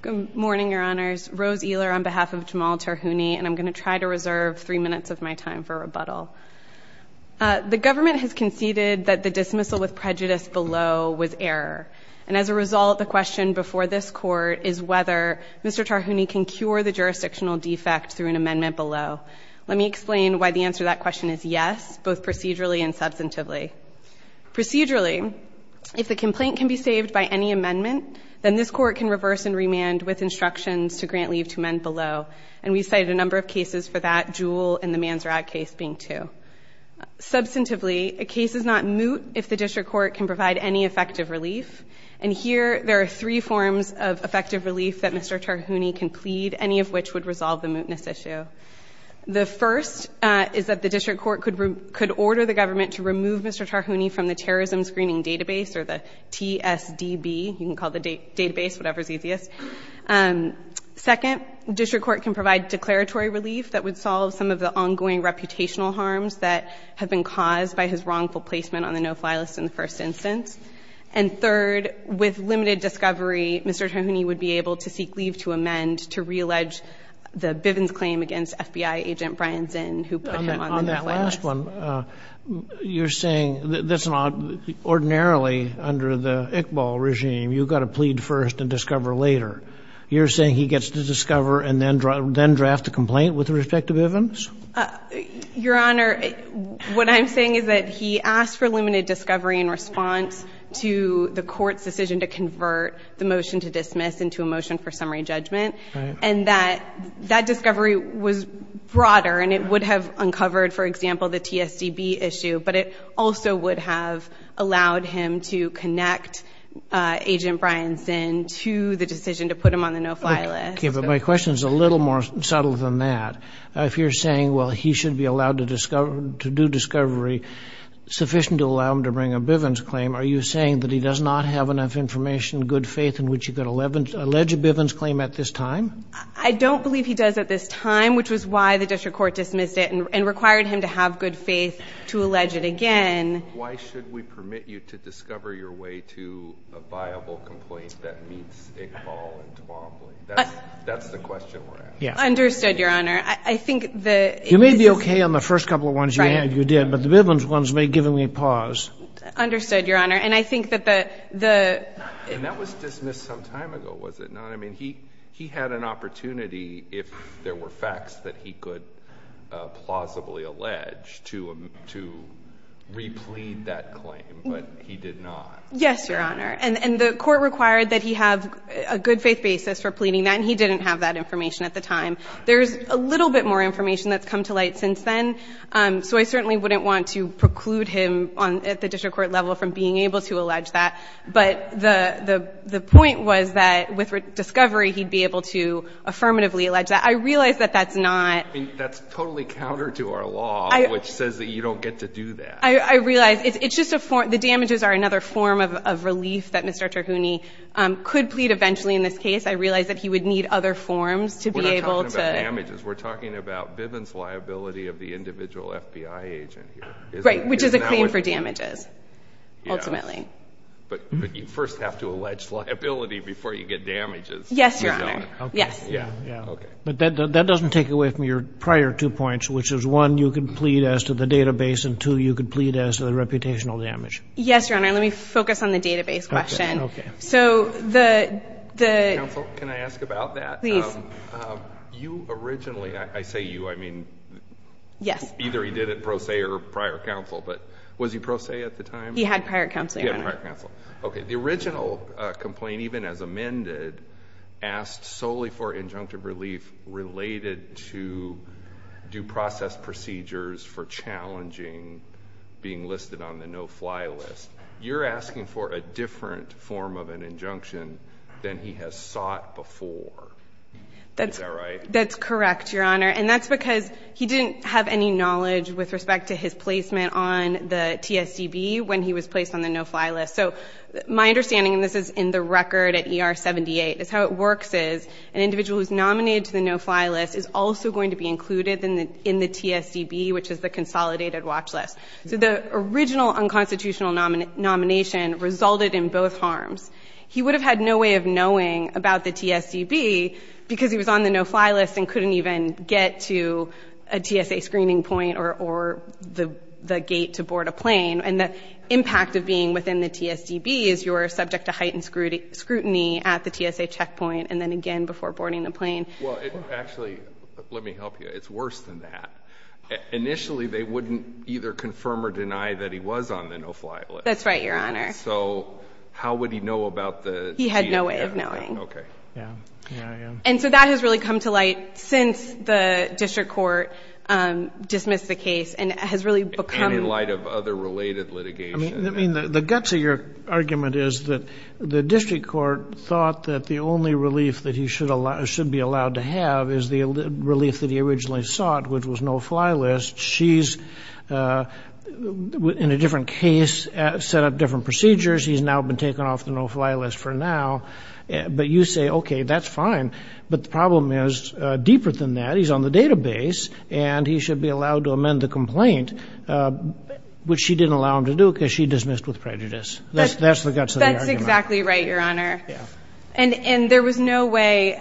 Good morning, Your Honors. Rose Ehler on behalf of Jamal Tarhuni, and I'm going to try to reserve three minutes of my time for rebuttal. The government has conceded that the dismissal with prejudice below was error, and as a result, the question before this Court is whether Mr. Tarhuni can cure the jurisdictional defect through an amendment below. Let me explain why the answer to that question is yes, both procedurally and substantively. Procedurally, if the complaint can be saved by any amendment, then this Court can reverse and remand with instructions to grant leave to men below, and we've cited a number of cases for that, being two. Substantively, a case is not moot if the District Court can provide any effective relief, and here there are three forms of effective relief that Mr. Tarhuni can plead, any of which would resolve the mootness issue. The first is that the District Court could order the government to remove Mr. Tarhuni from the Terrorism Screening Database, or the TSDB, you can call it the database, whatever's easiest. Second, the District Court can provide declaratory relief that would solve some of the ongoing reputational harms that have been caused by his wrongful placement on the No-Fly List in the first instance. And third, with limited discovery, Mr. Tarhuni would be able to seek leave to amend to reallege the Bivens claim against FBI agent Brian Zinn, who put him on the No-Fly List. On that last one, you're saying that's not ordinarily under the Iqbal regime, you've got to plead first and discover later. You're saying he gets to discover and then draft a complaint with respect to Bivens? Your Honor, what I'm saying is that he asked for limited discovery in response to the court's decision to convert the motion to dismiss into a motion for summary judgment, and that discovery was broader, and it would have uncovered, for example, the TSDB issue, but it also would have allowed him to connect agent Brian Zinn to the decision to put him on the No-Fly List. Okay, but my question is a little more subtle than that. If you're saying, well, he should be allowed to do discovery sufficient to allow him to bring a Bivens claim, are you saying that he does not have enough information and good faith in which he could allege a Bivens claim at this time? I don't believe he does at this time, which is why the District Court dismissed it and required him to have good faith to allege it again. Why should we permit you to discover your way to a viable complaint that meets Iqbal and Twombly? That's the question we're asking. Understood, Your Honor. I think that it's – You may be okay on the first couple of ones you had, you did, but the Bivens ones may give him a pause. Understood, Your Honor. And I think that the – And that was dismissed some time ago, was it not? I mean, he had an opportunity, if there were facts, that he could plausibly allege to replead that claim, but he did not. Yes, Your Honor. And the court required that he have a good faith basis for pleading that, and he didn't have that information at the time. There's a little bit more information that's come to light since then, so I certainly wouldn't want to preclude him at the District Court level from being able to allege that. But the point was that with discovery, he'd be able to affirmatively allege that. I realize that that's not – I mean, that's totally counter to our law, which says that you don't get to do that. I realize. It's just a – the damages are another form of relief that Mr. Terhouni could plead eventually in this case. I realize that he would need other forms to be able to – We're not talking about damages. We're talking about Bivens liability of the individual FBI agent here, isn't it? Right, which is a claim for damages, ultimately. Yes. But you first have to allege liability before you get damages. Yes, Your Honor. Okay. Yes. Yeah, yeah. Okay. But that doesn't take away from your prior two points, which is one, you could plead as to the database, and two, you could plead as to the reputational damage. Yes, Your Honor. Let me focus on the database question. Okay. Okay. So the – Counsel, can I ask about that? Please. You originally – I say you, I mean – Yes. Either he did it pro se or prior counsel, but was he pro se at the time? He had prior counsel, Your Honor. Okay. He had prior counsel. Okay. The original complaint, even as amended, asked solely for injunctive relief related to due process procedures for challenging being listed on the no-fly list. You're asking for a different form of an injunction than he has sought before. Is that right? That's correct, Your Honor, and that's because he didn't have any knowledge with respect to his placement on the TSCB when he was placed on the no-fly list. So my understanding, and this is in the record at ER 78, is how it works is an individual who's nominated to the no-fly list is also going to be included in the TSCB, which is the consolidated watch list. So the original unconstitutional nomination resulted in both harms. He would have had no way of knowing about the TSCB because he was on the no-fly list and couldn't even get to a TSA screening point or the gate to board a plane. And the impact of being within the TSDB is you're subject to heightened scrutiny at the TSA checkpoint and then again before boarding the plane. Well, actually, let me help you. It's worse than that. Initially, they wouldn't either confirm or deny that he was on the no-fly list. That's right, Your Honor. So how would he know about the TSCB? He had no way of knowing. Okay. Yeah. Yeah, yeah. And so that has really come to light since the district court dismissed the case and has really become... And in light of other related litigation. I mean, the guts of your argument is that the district court thought that the only relief that he should be allowed to have is the relief that he originally sought, which was no-fly list. She's, in a different case, set up different procedures. He's now been taken off the no-fly list for now. But you say, okay, that's fine. But the problem is, deeper than that, he's on the database and he should be allowed to amend the complaint, which she didn't allow him to do because she dismissed with prejudice. That's the guts of the argument. That's exactly right, Your Honor. And there was no way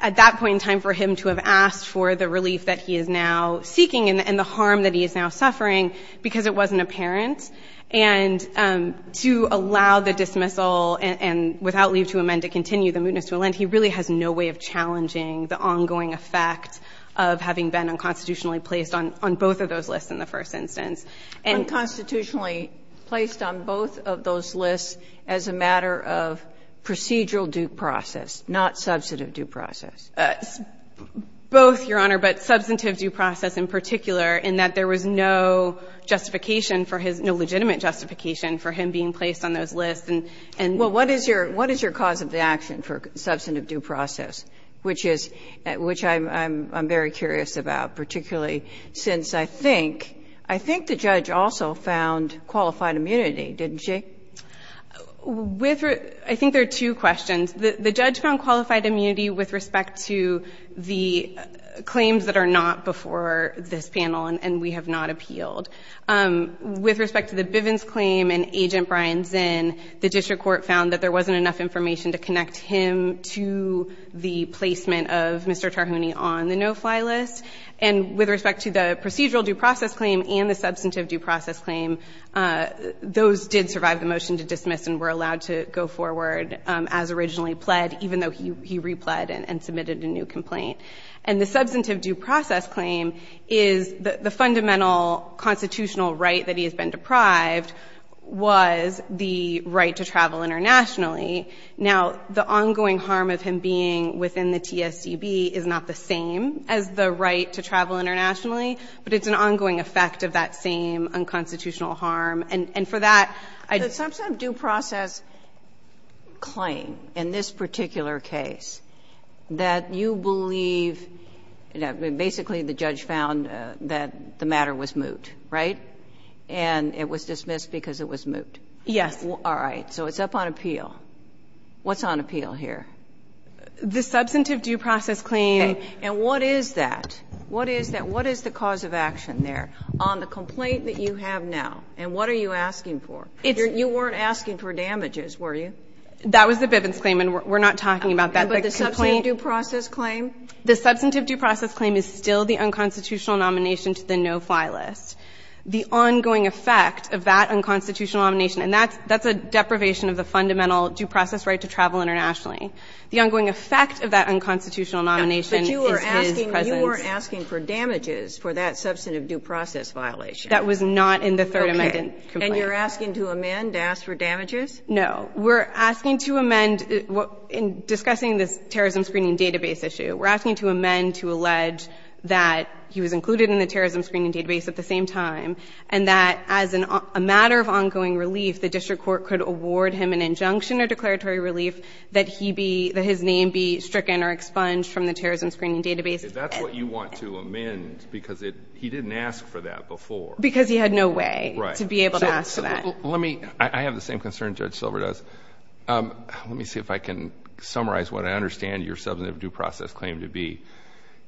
at that point in time for him to have asked for the relief that he is now seeking and the harm that he is now suffering because it wasn't apparent. And to allow the dismissal and without leave to amend to continue the mootness to a lend, he really has no way of challenging the ongoing effect of having been unconstitutionally placed on both of those lists in the first instance. Unconstitutionally placed on both of those lists as a matter of procedural due process, not substantive due process. Both, Your Honor, but substantive due process in particular in that there was no justification for his, no legitimate justification for him being placed on those lists and. Well, what is your, what is your cause of the action for substantive due process? Which is, which I'm, I'm, I'm very curious about, particularly since I think, I think the judge also found qualified immunity, didn't she? With, I think there are two questions. The, the judge found qualified immunity with respect to the claims that are not before this panel and we have not appealed. With respect to the Bivens claim and Agent Brian Zinn, the district court found that there wasn't enough information to connect him to the placement of Mr. Tarhouni on the no fly list. And with respect to the procedural due process claim and the substantive due process claim, those did survive the motion to dismiss and were allowed to go forward as originally pled, even though he, he repled and, and submitted a new complaint. And the substantive due process claim is the, the fundamental constitutional right that he has been deprived was the right to travel internationally. Now, the ongoing harm of him being within the TSDB is not the same as the right to travel internationally, but it's an ongoing effect of that same unconstitutional harm, and, and for that, I- The substantive due process claim in this particular case, that you believe, basically the judge found that the matter was moot, right? And it was dismissed because it was moot. Yes. All right, so it's up on appeal. What's on appeal here? The substantive due process claim. And what is that? What is that? What is the cause of action there on the complaint that you have now? And what are you asking for? It's- You weren't asking for damages, were you? That was the Bivens claim and we're not talking about that. But the substantive due process claim? The substantive due process claim is still the unconstitutional nomination to the no-fly list. The ongoing effect of that unconstitutional nomination, and that's, that's a deprivation of the fundamental due process right to travel internationally. The ongoing effect of that unconstitutional nomination is his presence. But you were asking, you were asking for damages for that substantive due process violation. That was not in the third amendment complaint. Okay, and you're asking to amend to ask for damages? No. We're asking to amend what, in discussing this terrorism screening database issue, we're asking to amend to allege that he was included in the terrorism screening database at the same time. And that as an, a matter of ongoing relief, the district court could award him an injunction or declaratory relief that he be, that his name be stricken or expunged from the terrorism screening database. That's what you want to amend because it, he didn't ask for that before. Right. To be able to ask for that. Let me, I, I have the same concern Judge Silver does. Let me see if I can summarize what I understand your substantive due process claim to be.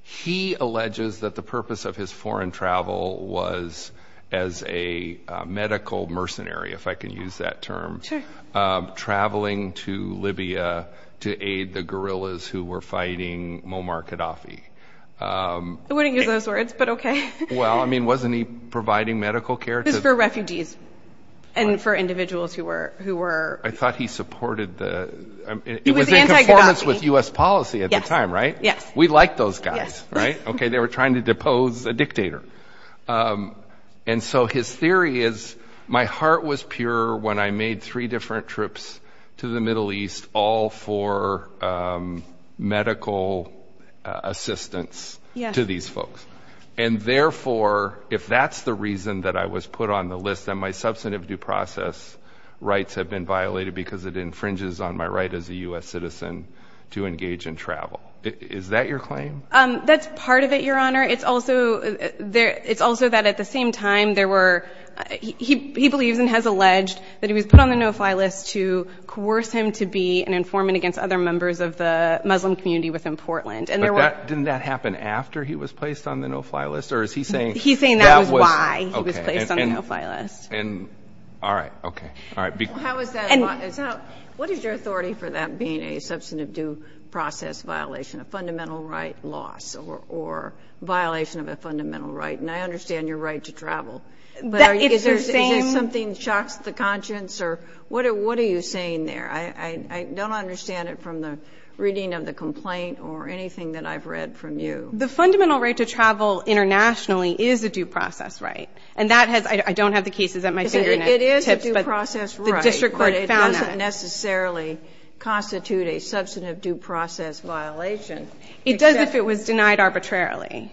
He alleges that the purpose of his foreign travel was as a medical mercenary, if I can use that term. Sure. Traveling to Libya to aid the guerrillas who were fighting Muammar Gaddafi. I wouldn't use those words, but okay. Well, I mean, wasn't he providing medical care to- And for individuals who were, who were- I thought he supported the, it was in conformance with U.S. policy at the time, right? Yes. We liked those guys, right? Okay. They were trying to depose a dictator. And so his theory is, my heart was pure when I made three different trips to the Middle East, all for medical assistance to these folks. And therefore, if that's the reason that I was put on the list, then my substantive due process rights have been violated because it infringes on my right as a U.S. citizen to engage in travel. Is that your claim? That's part of it, Your Honor. It's also that at the same time, there were, he believes and has alleged that he was put on the no-fly list to coerce him to be an informant against other members of the Muslim community within Portland. And there were- Didn't that happen after he was placed on the no-fly list? Or is he saying- He's saying that was why he was placed on the no-fly list. All right. Okay. All right. How is that? What is your authority for that being a substantive due process violation, a fundamental right loss or violation of a fundamental right? And I understand your right to travel, but is there something that shocks the conscience or what are you saying there? I don't understand it from the reading of the complaint or anything that I've read from you. The fundamental right to travel internationally is a due process right. And that has, I don't have the cases at my fingernail tips, but the district court found that. It is a due process right, but it doesn't necessarily constitute a substantive due process violation. It does if it was denied arbitrarily.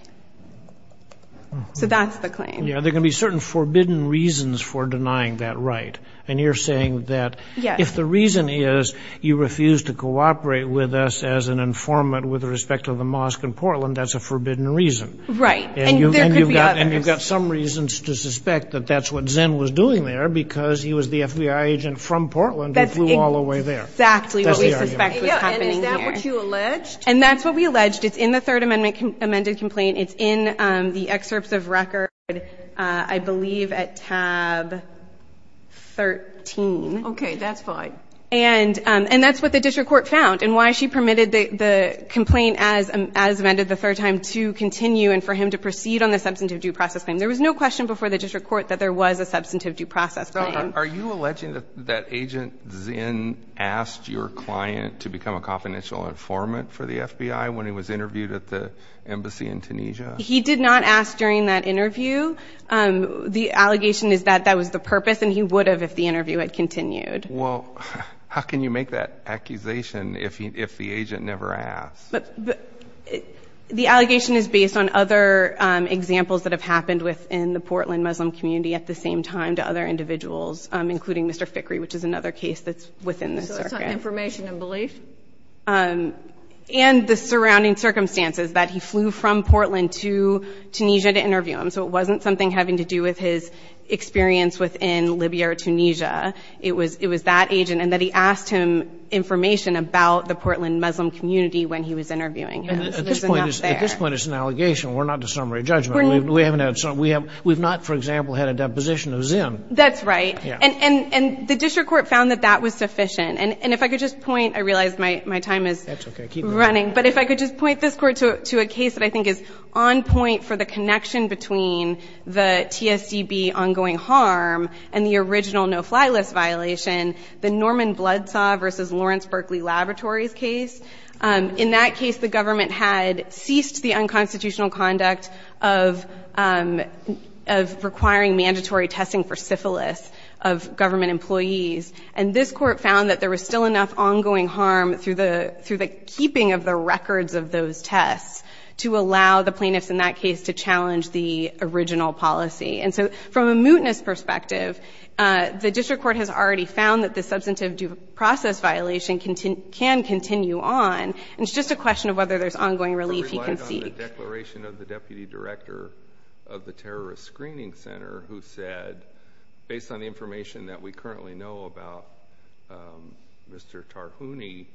So that's the claim. Yeah, there can be certain forbidden reasons for denying that right. And you're saying that if the reason is you refuse to cooperate with us as an informant with respect to the mosque in Portland, that's a forbidden reason. Right. And there could be others. There's no reason to suspect that that's what Zinn was doing there because he was the FBI agent from Portland who flew all the way there. That's exactly what we suspect was happening here. And is that what you alleged? And that's what we alleged. It's in the third amendment amended complaint. It's in the excerpts of record, I believe at tab 13. Okay, that's fine. And that's what the district court found and why she permitted the complaint as amended the third time to continue and for him to proceed on the substantive due process claim. There was no question before the district court that there was a substantive due process claim. Are you alleging that agent Zinn asked your client to become a confidential informant for the FBI when he was interviewed at the embassy in Tunisia? He did not ask during that interview. The allegation is that that was the purpose and he would have if the interview had continued. Well, how can you make that accusation if the agent never asked? The allegation is based on other examples that have happened within the Portland Muslim community at the same time to other individuals, including Mr. Fickrey, which is another case that's within the circuit. So it's on information and belief? And the surrounding circumstances, that he flew from Portland to Tunisia to interview him. So it wasn't something having to do with his experience within Libya or Tunisia. It was that agent and that he asked him information about the Portland Muslim community when he was interviewing him. At this point, it's an allegation. We're not the summary judgment. We haven't had some. We have we've not, for example, had a deposition of Zinn. That's right. And the district court found that that was sufficient. And if I could just point, I realize my time is running. But if I could just point this court to a case that I think is on point for the connection between the TSDB ongoing harm and the original no-fly list violation, the Norman Bloodsaw versus Lawrence Berkeley Laboratories case. In that case, the government had ceased the unconstitutional conduct of requiring mandatory testing for syphilis of government employees. And this court found that there was still enough ongoing harm through the keeping of the records of those tests to allow the plaintiffs in that case to challenge the original policy. And so from a mootness perspective, the district court has already found that the substantive due process violation can continue on. And it's just a question of whether there's ongoing relief you can seek. The declaration of the Deputy Director of the Terrorist Screening Center who said, based on the information that we currently know about Mr. Tarhouni,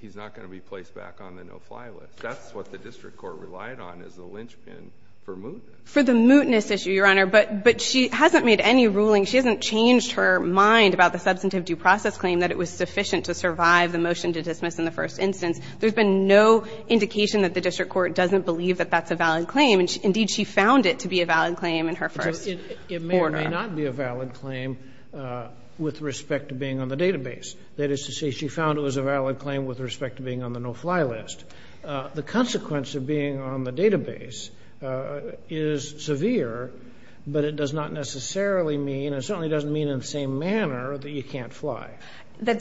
he's not going to be placed back on the no-fly list. That's what the district court relied on as a linchpin for mootness. For the mootness issue, Your Honor. But she hasn't made any ruling, she hasn't changed her mind about the substantive due process claim that it was sufficient to survive the motion to dismiss in the first instance. There's been no indication that the district court doesn't believe that that's a valid claim. And indeed, she found it to be a valid claim in her first order. It may or may not be a valid claim with respect to being on the database. That is to say, she found it was a valid claim with respect to being on the no-fly list. The consequence of being on the database is severe, but it does not necessarily mean, and certainly doesn't mean in the same manner, that you can't fly.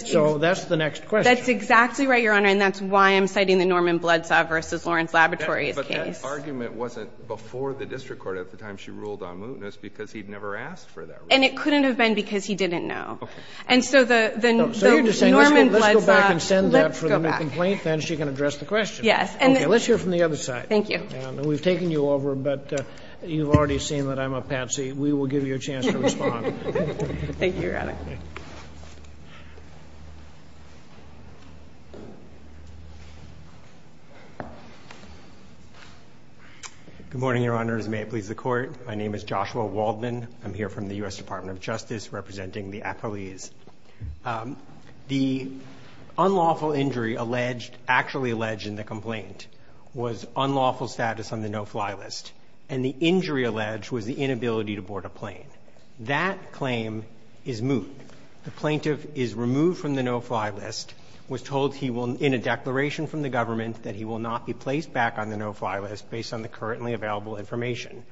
So that's the next question. That's exactly right, Your Honor, and that's why I'm citing the Norman Bloodsaw v. Lawrence Laboratories case. But that argument wasn't before the district court at the time she ruled on mootness because he'd never asked for that. And it couldn't have been because he didn't know. Okay. And so the Norman Bloodsaw, let's go back. So you're just saying let's go back and send that for the complaint, then she can address the question. Yes. Okay. Let's hear from the other side. Thank you. And we've taken you over, but you've already seen that I'm a patsy. We will give you a chance to respond. Thank you, Your Honor. Good morning, Your Honors. May it please the Court. My name is Joshua Waldman. I'm here from the U.S. Department of Justice representing the appellees. The unlawful injury alleged, actually alleged in the complaint, was unlawful status on the no-fly list, and the injury alleged was the inability to board a plane. That claim is moot. The plaintiff is removed from the no-fly list, was told he will, in a declaration from the government, that he will not be placed back on the no-fly list based on the currently available information.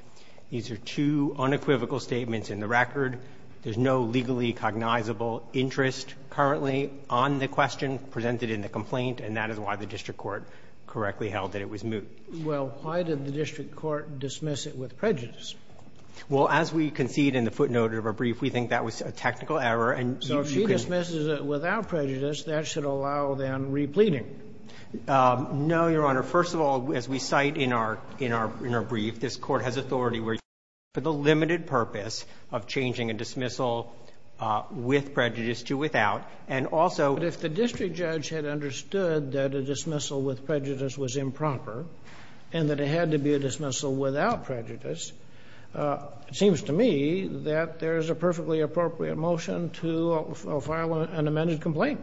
These are two unequivocal statements in the record. There's no legally cognizable interest currently on the question presented in the complaint, and that is why the district court correctly held that it was moot. Well, why did the district court dismiss it with prejudice? Well, as we concede in the footnote of our brief, we think that was a technical error, and you can't So if she dismisses it without prejudice, that should allow them repleating. No, Your Honor. First of all, as we cite in our brief, this court has authority where you can, for the limited purpose of changing a dismissal with prejudice to without, and also But if the district judge had understood that a dismissal with prejudice was improper, and that it had to be a dismissal without prejudice, it seems to me that there's a perfectly appropriate motion to file an amended complaint.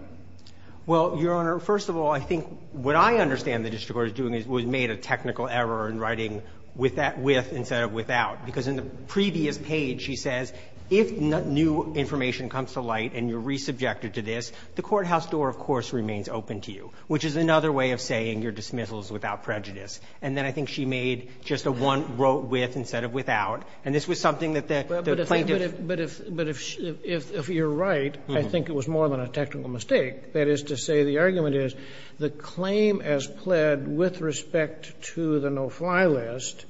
Well, Your Honor, first of all, I think what I understand the district court is doing is it was made a technical error in writing with instead of without, because in the previous page, she says, if new information comes to light and you're resubjected to this, the courthouse door, of course, remains open to you, which is another way of saying your dismissal is without prejudice. And then I think she made just a one-wrote with instead of without, and this was something that the plaintiff But if you're right, I think it was more than a technical mistake. That is to say, the argument is the claim as pled with respect to the no-fly list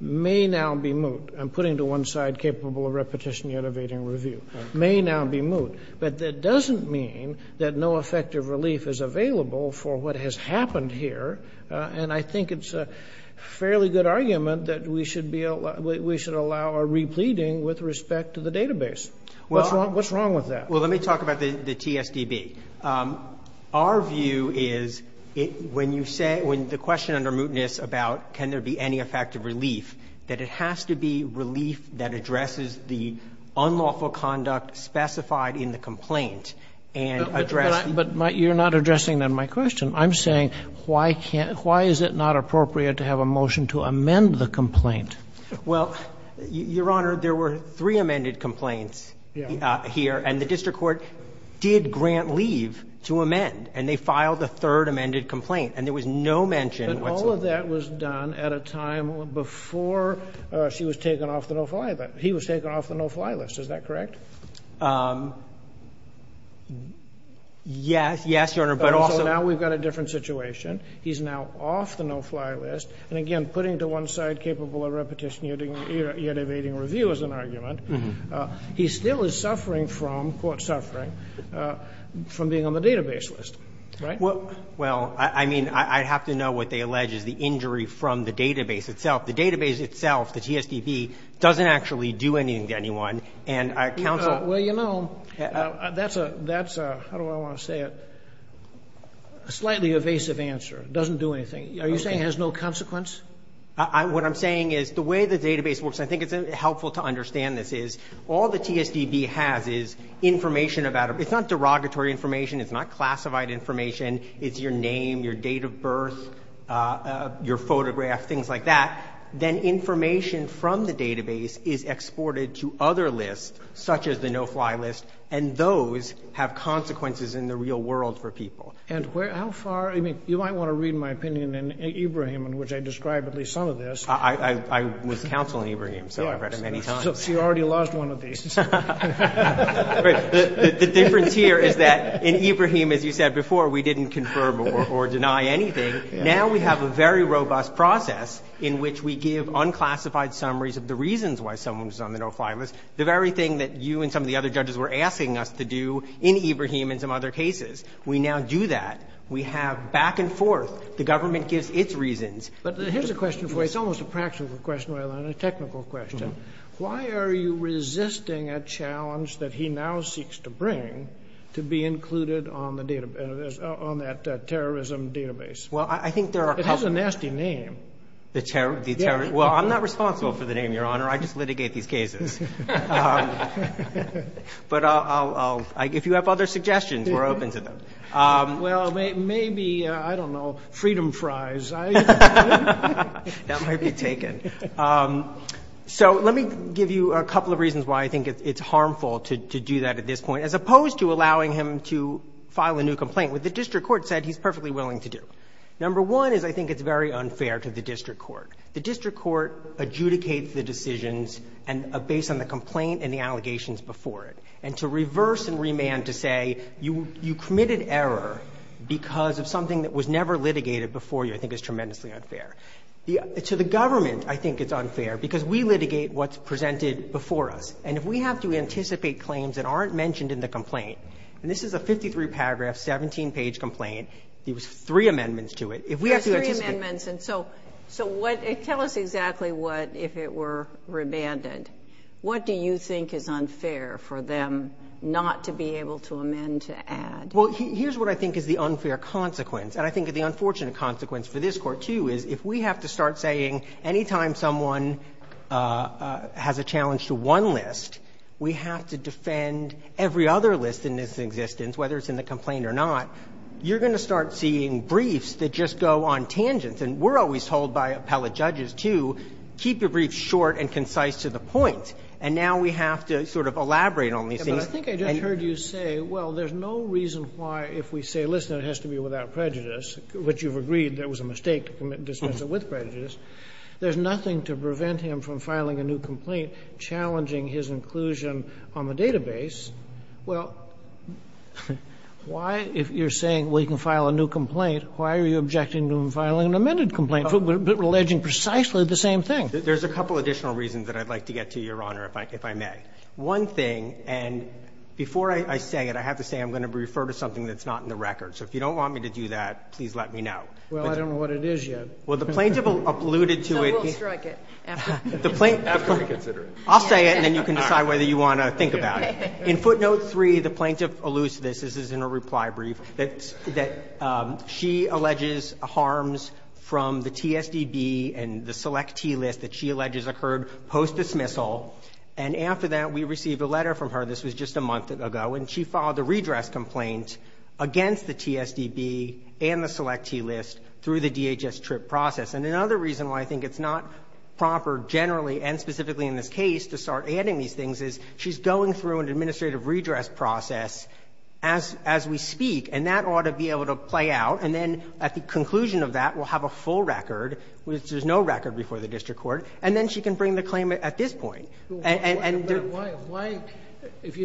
may now be moot. I'm putting to one side capable of repetition, yet evading review. May now be moot. But that doesn't mean that no effective relief is available for what has happened here. And I think it's a fairly good argument that we should allow a repleading with respect to the database. What's wrong with that? Well, let me talk about the TSDB. Our view is, when you say, when the question under mootness about can there be any effective relief, that it has to be relief that addresses the unlawful conduct specified in the complaint and address. But you're not addressing then my question. I'm saying, why is it not appropriate to have a motion to amend the complaint? Well, your honor, there were three amended complaints here. And the district court did grant leave to amend. And they filed a third amended complaint. And there was no mention. But all of that was done at a time before she was taken off the no-fly list. He was taken off the no-fly list. Is that correct? Yes, yes, your honor. So now we've got a different situation. He's now off the no-fly list. And again, putting to one side capable of repetition, yet evading review is an argument. He still is suffering from, quote, suffering, from being on the database list, right? Well, I mean, I have to know what they allege is the injury from the database itself. The database itself, the TSDB, doesn't actually do anything to anyone. And counsel- Well, you know, that's a, how do I want to say it, a slightly evasive answer. It doesn't do anything. Are you saying it has no consequence? What I'm saying is the way the database works, and I think it's helpful to understand this, is all the TSDB has is information about it. It's not derogatory information. It's not classified information. It's your name, your date of birth, your photograph, things like that. Then information from the database is exported to other lists, such as the no-fly list, and those have consequences in the real world for people. And how far, I mean, you might want to read my opinion in Ibrahim, in which I describe at least some of this. I was counsel in Ibrahim, so I've read him many times. So you already lost one of these. The difference here is that in Ibrahim, as you said before, we didn't confirm or deny anything. Now we have a very robust process in which we give unclassified summaries of the reasons why someone was on the no-fly list, the very thing that you and some of the other judges were asking us to do in Ibrahim and some other cases. We now do that. We have back and forth. The government gives its reasons. But here's a question for you. It's almost a practical question rather than a technical question. Why are you resisting a challenge that he now seeks to bring to be included on that terrorism database? Well, I think there are a couple. It has a nasty name. The terrorist. Well, I'm not responsible for the name, Your Honor. I just litigate these cases. But I'll, if you have other suggestions, we're open to them. Well, maybe, I don't know, Freedom Fries. That might be taken. So let me give you a couple of reasons why I think it's harmful to do that at this point, as opposed to allowing him to file a new complaint, which the district court said he's perfectly willing to do. Number one is I think it's very unfair to the district court. The district court adjudicates the decisions based on the complaint and the allegations before it. And to reverse and remand to say you committed error because of something that was never litigated before you, I think is tremendously unfair. To the government, I think it's unfair because we litigate what's presented before us. And if we have to anticipate claims that aren't mentioned in the complaint, and this is a 53-paragraph, 17-page complaint. There's three amendments to it. If we have to anticipate... There's three amendments. And so what, tell us exactly what if it were remanded. What do you think is unfair for them not to be able to amend to add? Well, here's what I think is the unfair consequence. And I think the unfortunate consequence for this court, too, is if we have to start saying anytime someone has a challenge to one list, we have to defend every other list in its existence, whether it's in the complaint or not. You're going to start seeing briefs that just go on tangents. And we're always told by appellate judges, too, keep your briefs short and concise to the point. And now we have to sort of elaborate on these things. But I think I just heard you say, well, there's no reason why if we say, listen, it has to be without prejudice, which you've agreed there was a mistake to dismiss it with prejudice. There's nothing to prevent him from filing a new complaint challenging his inclusion on the database. Well, why, if you're saying we can file a new complaint, why are you objecting to him filing an amended complaint alleging precisely the same thing? There's a couple additional reasons that I'd like to get to, Your Honor, if I may. One thing, and before I say it, I have to say I'm going to refer to something that's not in the record. So if you don't want me to do that, please let me know. Well, I don't know what it is yet. Well, the plaintiff alluded to it. So we'll strike it after we consider it. I'll say it, and then you can decide whether you want to think about it. In footnote three, the plaintiff alludes to this. This is in a reply brief, that she alleges harms from the TSDB and the Select-T list that she alleges occurred post-dismissal. And after that, we received a letter from her. This was just a month ago. And she filed a redress complaint against the TSDB and the Select-T list through the DHS trip process. And another reason why I think it's not proper generally and specifically in this case to start adding these things is she's going through an administrative redress process as we speak, and that ought to be able to play out. And then at the conclusion of that, we'll have a full record, which there's no record before the district court. And then she can bring the claimant at this point. And- But why, if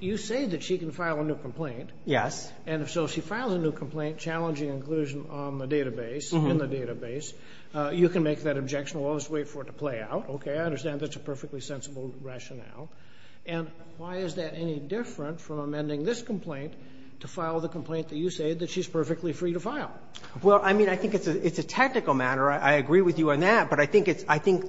you say that she can file a new complaint. Yes. And if so, if she files a new complaint challenging inclusion on the database, in the database, you can make that objection. We'll just wait for it to play out. Okay, I understand that's a perfectly sensible rationale. And why is that any different from amending this complaint to file the complaint that you say that she's perfectly free to file? Well, I mean, I think it's a technical matter. I agree with you on that. But I think it's, I think,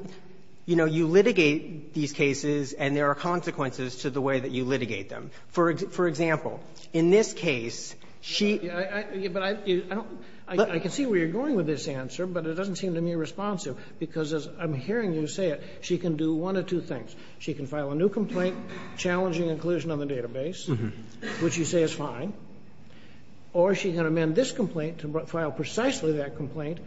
you know, you litigate these cases and there are consequences to the way that you litigate them. For example, in this case, she- Yeah, but I don't, I can see where you're going with this answer, but it doesn't seem to me responsive, because as I'm hearing you say it, she can do one or two things. She can file a new complaint challenging inclusion on the database, which you say is fine. Or she can amend this complaint to file precisely that complaint,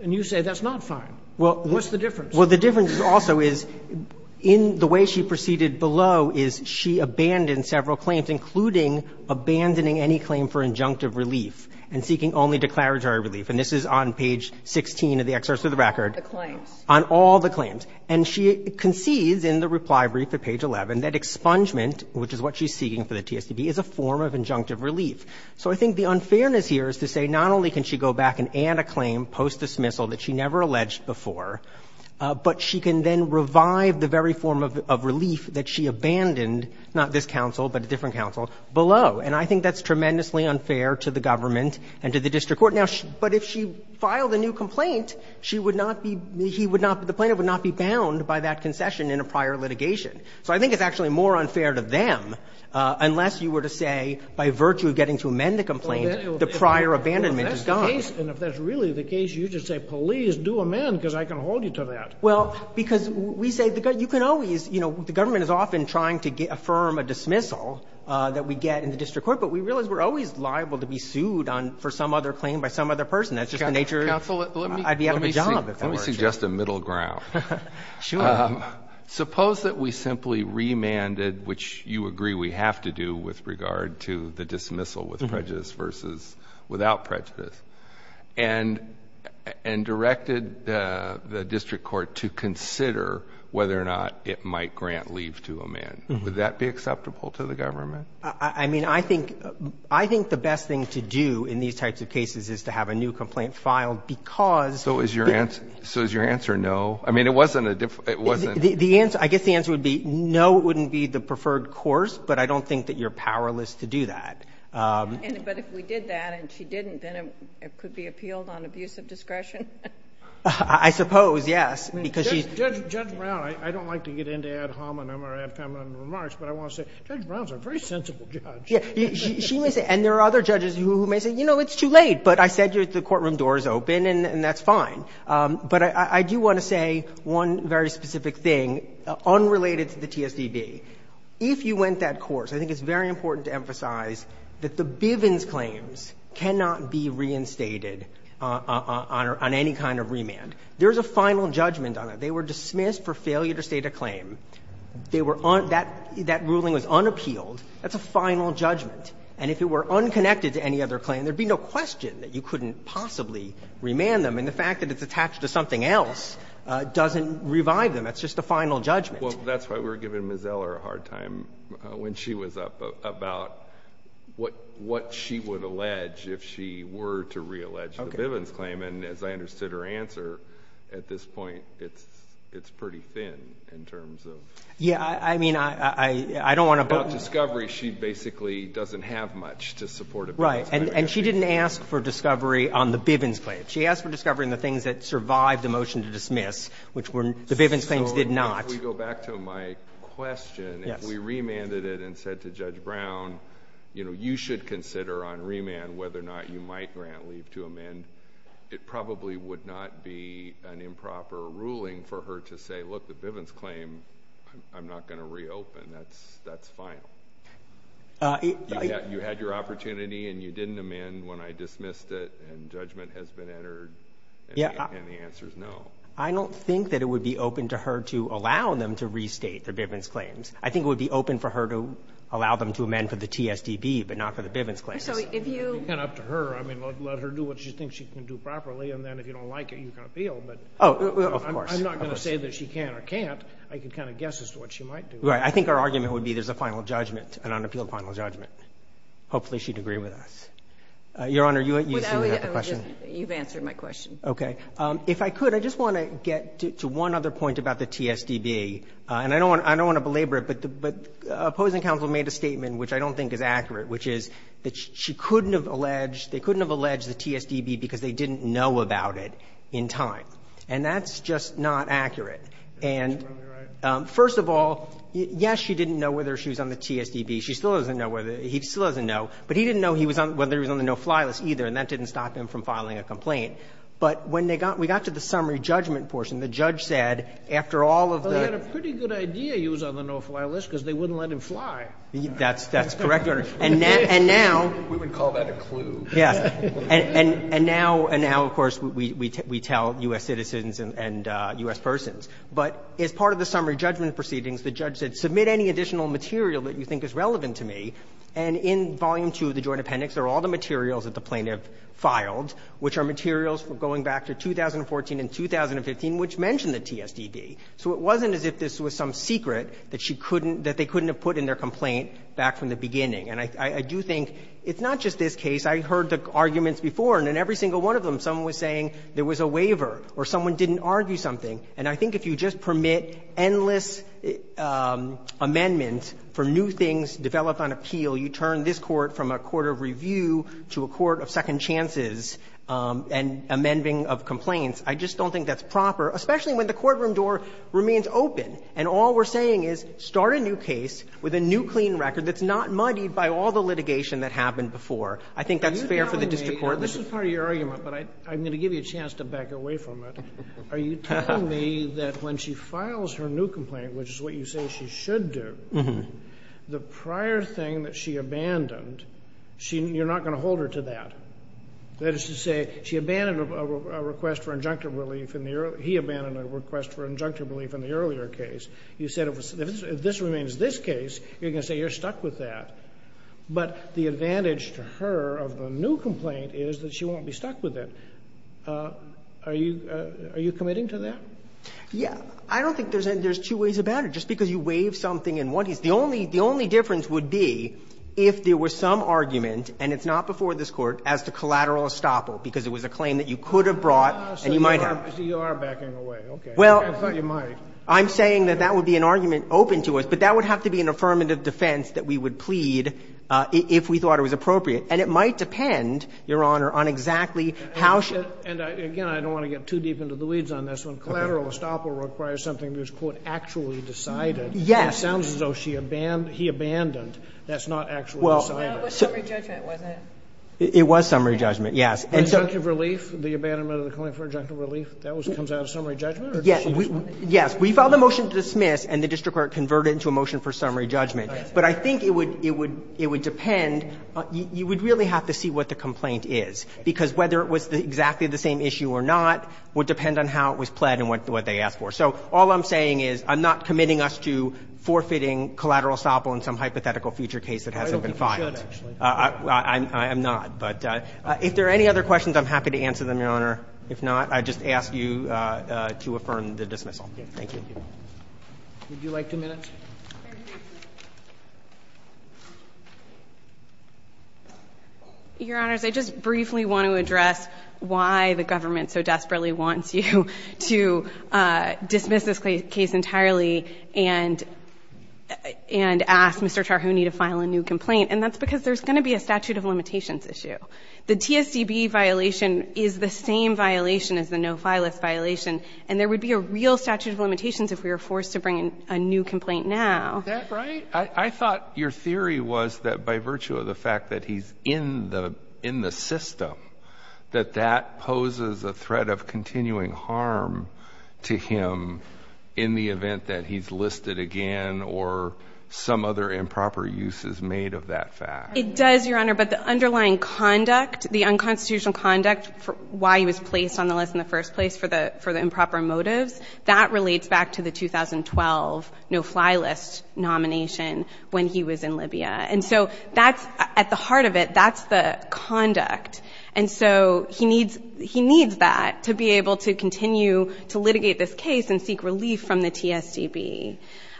and you say that's not fine. Well, what's the difference? Well, the difference also is, in the way she proceeded below, is she abandoned several claims, including abandoning any claim for injunctive relief and seeking only declaratory relief. And this is on page 16 of the Excerpt to the Record. The claims. On all the claims. And she concedes in the reply brief at page 11 that expungement, which is what she's seeking for the TSTD, is a form of injunctive relief. So I think the unfairness here is to say, not only can she go back and add a claim post-dismissal that she never alleged before, but she can then revive the very form of relief that she abandoned, not this counsel, but a different counsel, below. And I think that's tremendously unfair to the government and to the district court. Now, but if she filed a new complaint, she would not be – he would not – the plaintiff would not be bound by that concession in a prior litigation. So I think it's actually more unfair to them, unless you were to say, by virtue of getting to amend the complaint, the prior abandonment is gone. And if that's the case, and if that's really the case, you should say, please do amend, because I can hold you to that. Well, because we say the – you can always – you know, the government is often trying to affirm a dismissal that we get in the district court, but we realize we're always liable to be sued on – for some other claim by some other person. That's just the nature of – I'd be out of a job, if that were true. Counsel, let me suggest a middle ground. Sure. Suppose that we simply remanded, which you agree we have to do with regard to the dismissal with prejudice versus without prejudice, and directed the district court to consider whether or not it might grant leave to amend. Would that be acceptable to the government? I mean, I think – I think the best thing to do in these types of cases is to have a new complaint filed, because – So is your answer – so is your answer no? I mean, it wasn't a – it wasn't – The answer – I guess the answer would be no wouldn't be the preferred course, but I don't think that you're powerless to do that. But if we did that, and she didn't, then it could be appealed on abuse of discretion? I suppose, yes, because she's – Judge Brown, I don't like to get into ad hominem or ad feminem remarks, but I want to – Judge Brown's a very sensible judge. Yeah. She may say – and there are other judges who may say, you know, it's too late, but I said the courtroom door is open, and that's fine. But I do want to say one very specific thing unrelated to the TSDB. If you went that course, I think it's very important to emphasize that the Bivens claims cannot be reinstated on any kind of remand. They were dismissed for failure to state a claim. They were – that ruling was unappealed. That's a final judgment. And if it were unconnected to any other claim, there'd be no question that you couldn't possibly remand them. And the fact that it's attached to something else doesn't revive them. That's just a final judgment. Well, that's why we were giving Ms. Eller a hard time when she was up about what she would allege if she were to reallege the Bivens claim. And as I understood her answer, at this point, it's pretty thin in terms of – Yeah, I mean, I don't want to – About discovery, she basically doesn't have much to support a Bivens claim. Right. And she didn't ask for discovery on the Bivens claim. She asked for discovery on the things that survived the motion to dismiss, which were – the Bivens claims did not. So if we go back to my question, if we remanded it and said to Judge Brown, you know, you should consider on remand whether or not you might grant leave to amend, it probably would not be an improper ruling for her to say, look, the Bivens claim, I'm not going to reopen. That's final. You had your opportunity and you didn't amend when I dismissed it and judgment has been entered and the answer's no. I don't think that it would be open to her to allow them to restate their Bivens claims. I think it would be open for her to allow them to amend for the TSDB, but not for the Bivens claims. So if you – It's kind of up to her. I mean, let her do what she thinks she can do properly, and then if you don't like it, you can appeal. But – Oh, of course. I'm not going to say that she can or can't. I can kind of guess as to what she might do. Right. I think our argument would be there's a final judgment, an unappealed final judgment. Hopefully she'd agree with us. Your Honor, you seem to have a question. You've answered my question. Okay. If I could, I just want to get to one other point about the TSDB, and I don't want to belabor it, but the opposing counsel made a statement which I don't think is accurate, which is that she couldn't have alleged – they couldn't have alleged the TSDB because they didn't know about it in time. And that's just not accurate. And first of all, yes, she didn't know whether she was on the TSDB. She still doesn't know whether – he still doesn't know. But he didn't know whether he was on the no-fly list either, and that didn't stop him from filing a complaint. But when they got – we got to the summary judgment portion, the judge said, after all of the – And he didn't know whether he was on the no-fly list because they wouldn't let him fly. That's correct, Your Honor. And now – We would call that a clue. Yes. And now, of course, we tell U.S. citizens and U.S. persons. But as part of the summary judgment proceedings, the judge said, submit any additional material that you think is relevant to me. And in Volume 2 of the Joint Appendix, there are all the materials that the plaintiff filed, which are materials going back to 2014 and 2015, which mention the TSDB. So it wasn't as if this was some secret that she couldn't – that they couldn't have put in their complaint back from the beginning. And I do think it's not just this case. I heard the arguments before, and in every single one of them, someone was saying there was a waiver or someone didn't argue something. And I think if you just permit endless amendments for new things developed on appeal, you turn this Court from a court of review to a court of second chances and amending of complaints. I just don't think that's proper, especially when the courtroom door remains open, and all we're saying is start a new case with a new clean record that's not muddied by all the litigation that happened before. I think that's fair for the district court. This is part of your argument, but I'm going to give you a chance to back away from it. Are you telling me that when she files her new complaint, which is what you say she should do, the prior thing that she abandoned, you're not going to hold her to that? That is to say, she abandoned a request for injunctive relief in the earlier he abandoned a request for injunctive relief in the earlier case. You said if this remains this case, you're going to say you're stuck with that. But the advantage to her of the new complaint is that she won't be stuck with it. Are you committing to that? Yeah. I don't think there's two ways about it. Just because you waive something in one case. The only difference would be if there was some argument, and it's not before this Court, as to collateral estoppel, because it was a claim that you could have brought and you might have. So you are backing away. Okay. Well, I'm saying that that would be an argument open to us, but that would have to be an affirmative defense that we would plead if we thought it was appropriate. And it might depend, Your Honor, on exactly how she. And again, I don't want to get too deep into the weeds on this one. Collateral estoppel requires something that was, quote, actually decided. Yes. It sounds as though she abandoned, he abandoned. That's not actually decided. It was summary judgment, wasn't it? It was summary judgment, yes. And so the abandonment of the claim for objective relief, that comes out of summary judgment? Yes. We filed a motion to dismiss, and the district court converted it into a motion for summary judgment. But I think it would depend. You would really have to see what the complaint is, because whether it was exactly the same issue or not would depend on how it was pled and what they asked for. So all I'm saying is I'm not committing us to forfeiting collateral estoppel in some hypothetical future case that hasn't been filed. I'm not. But if there are any other questions, I'm happy to answer them, Your Honor. If not, I just ask you to affirm the dismissal. Thank you. Would you like two minutes? Your Honors, I just briefly want to address why the government so desperately wants you to dismiss this case entirely and ask Mr. Tarhouni to file a new complaint. And that's because there's going to be a statute of limitations issue. The TSDB violation is the same violation as the no-file-less violation, and there would be a real statute of limitations if we were forced to bring in a new complaint now. Is that right? I thought your theory was that by virtue of the fact that he's in the system, that that poses a threat of continuing harm to him in the event that he's listed again or some other improper use is made of that fact. It does, Your Honor, but the underlying conduct, the unconstitutional conduct for why he was placed on the list in the first place for the improper motives, that relates back to the 2012 no-fly list nomination when he was in Libya. And so that's at the heart of it. That's the conduct. And so he needs that to be able to continue to litigate this case and seek relief from the TSDB.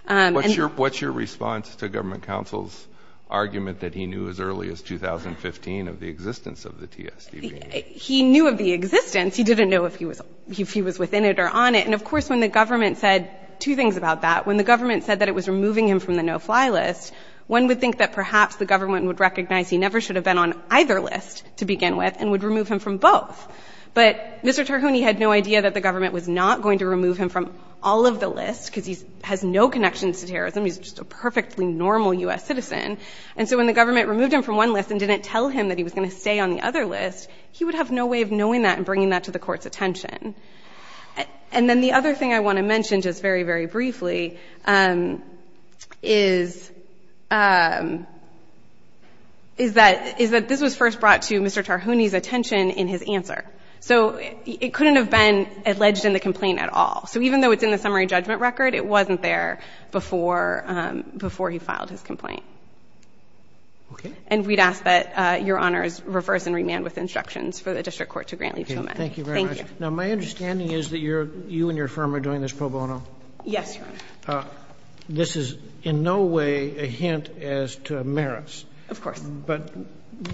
What's your response to government counsel's argument that he knew as early as 2015 of the existence of the TSDB? He knew of the existence. He didn't know if he was within it or on it. And, of course, when the government said two things about that. When the government said that it was removing him from the no-fly list, one would think that perhaps the government would recognize he never should have been on either list to begin with and would remove him from both. But Mr. Terhouni had no idea that the government was not going to remove him from all of the lists because he has no connections to terrorism. He's just a perfectly normal U.S. citizen. And so when the government removed him from one list and didn't tell him that he was going to stay on the other list, he would have no way of knowing that and bringing that to the court's attention. And then the other thing I want to mention just very, very briefly is that this was first brought to Mr. Terhouni's attention in his answer. So it couldn't have been alleged in the complaint at all. So even though it's in the summary judgment record, it wasn't there before he filed his complaint. And we'd ask that Your Honors reverse and remand with instructions for the District Court to grant leave to him. Thank you. Thank you very much. Now, my understanding is that you and your firm are doing this pro bono. Yes, Your Honor. This is in no way a hint as to merits. Of course. But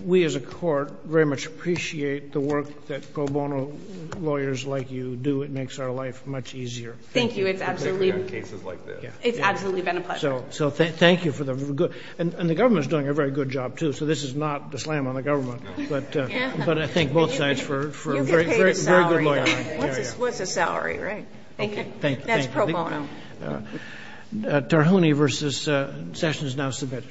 we as a court very much appreciate the work that pro bono lawyers like you do. It makes our life much easier. Thank you. It's absolutely. In cases like this. It's absolutely been a pleasure. So thank you for the good. And the government is doing a very good job, too. So this is not a slam on the government. But I thank both sides for a very good lawyer. You'll get paid a salary. What's a salary, right? Thank you. That's pro bono. Terhouni versus Sessions is now submitted.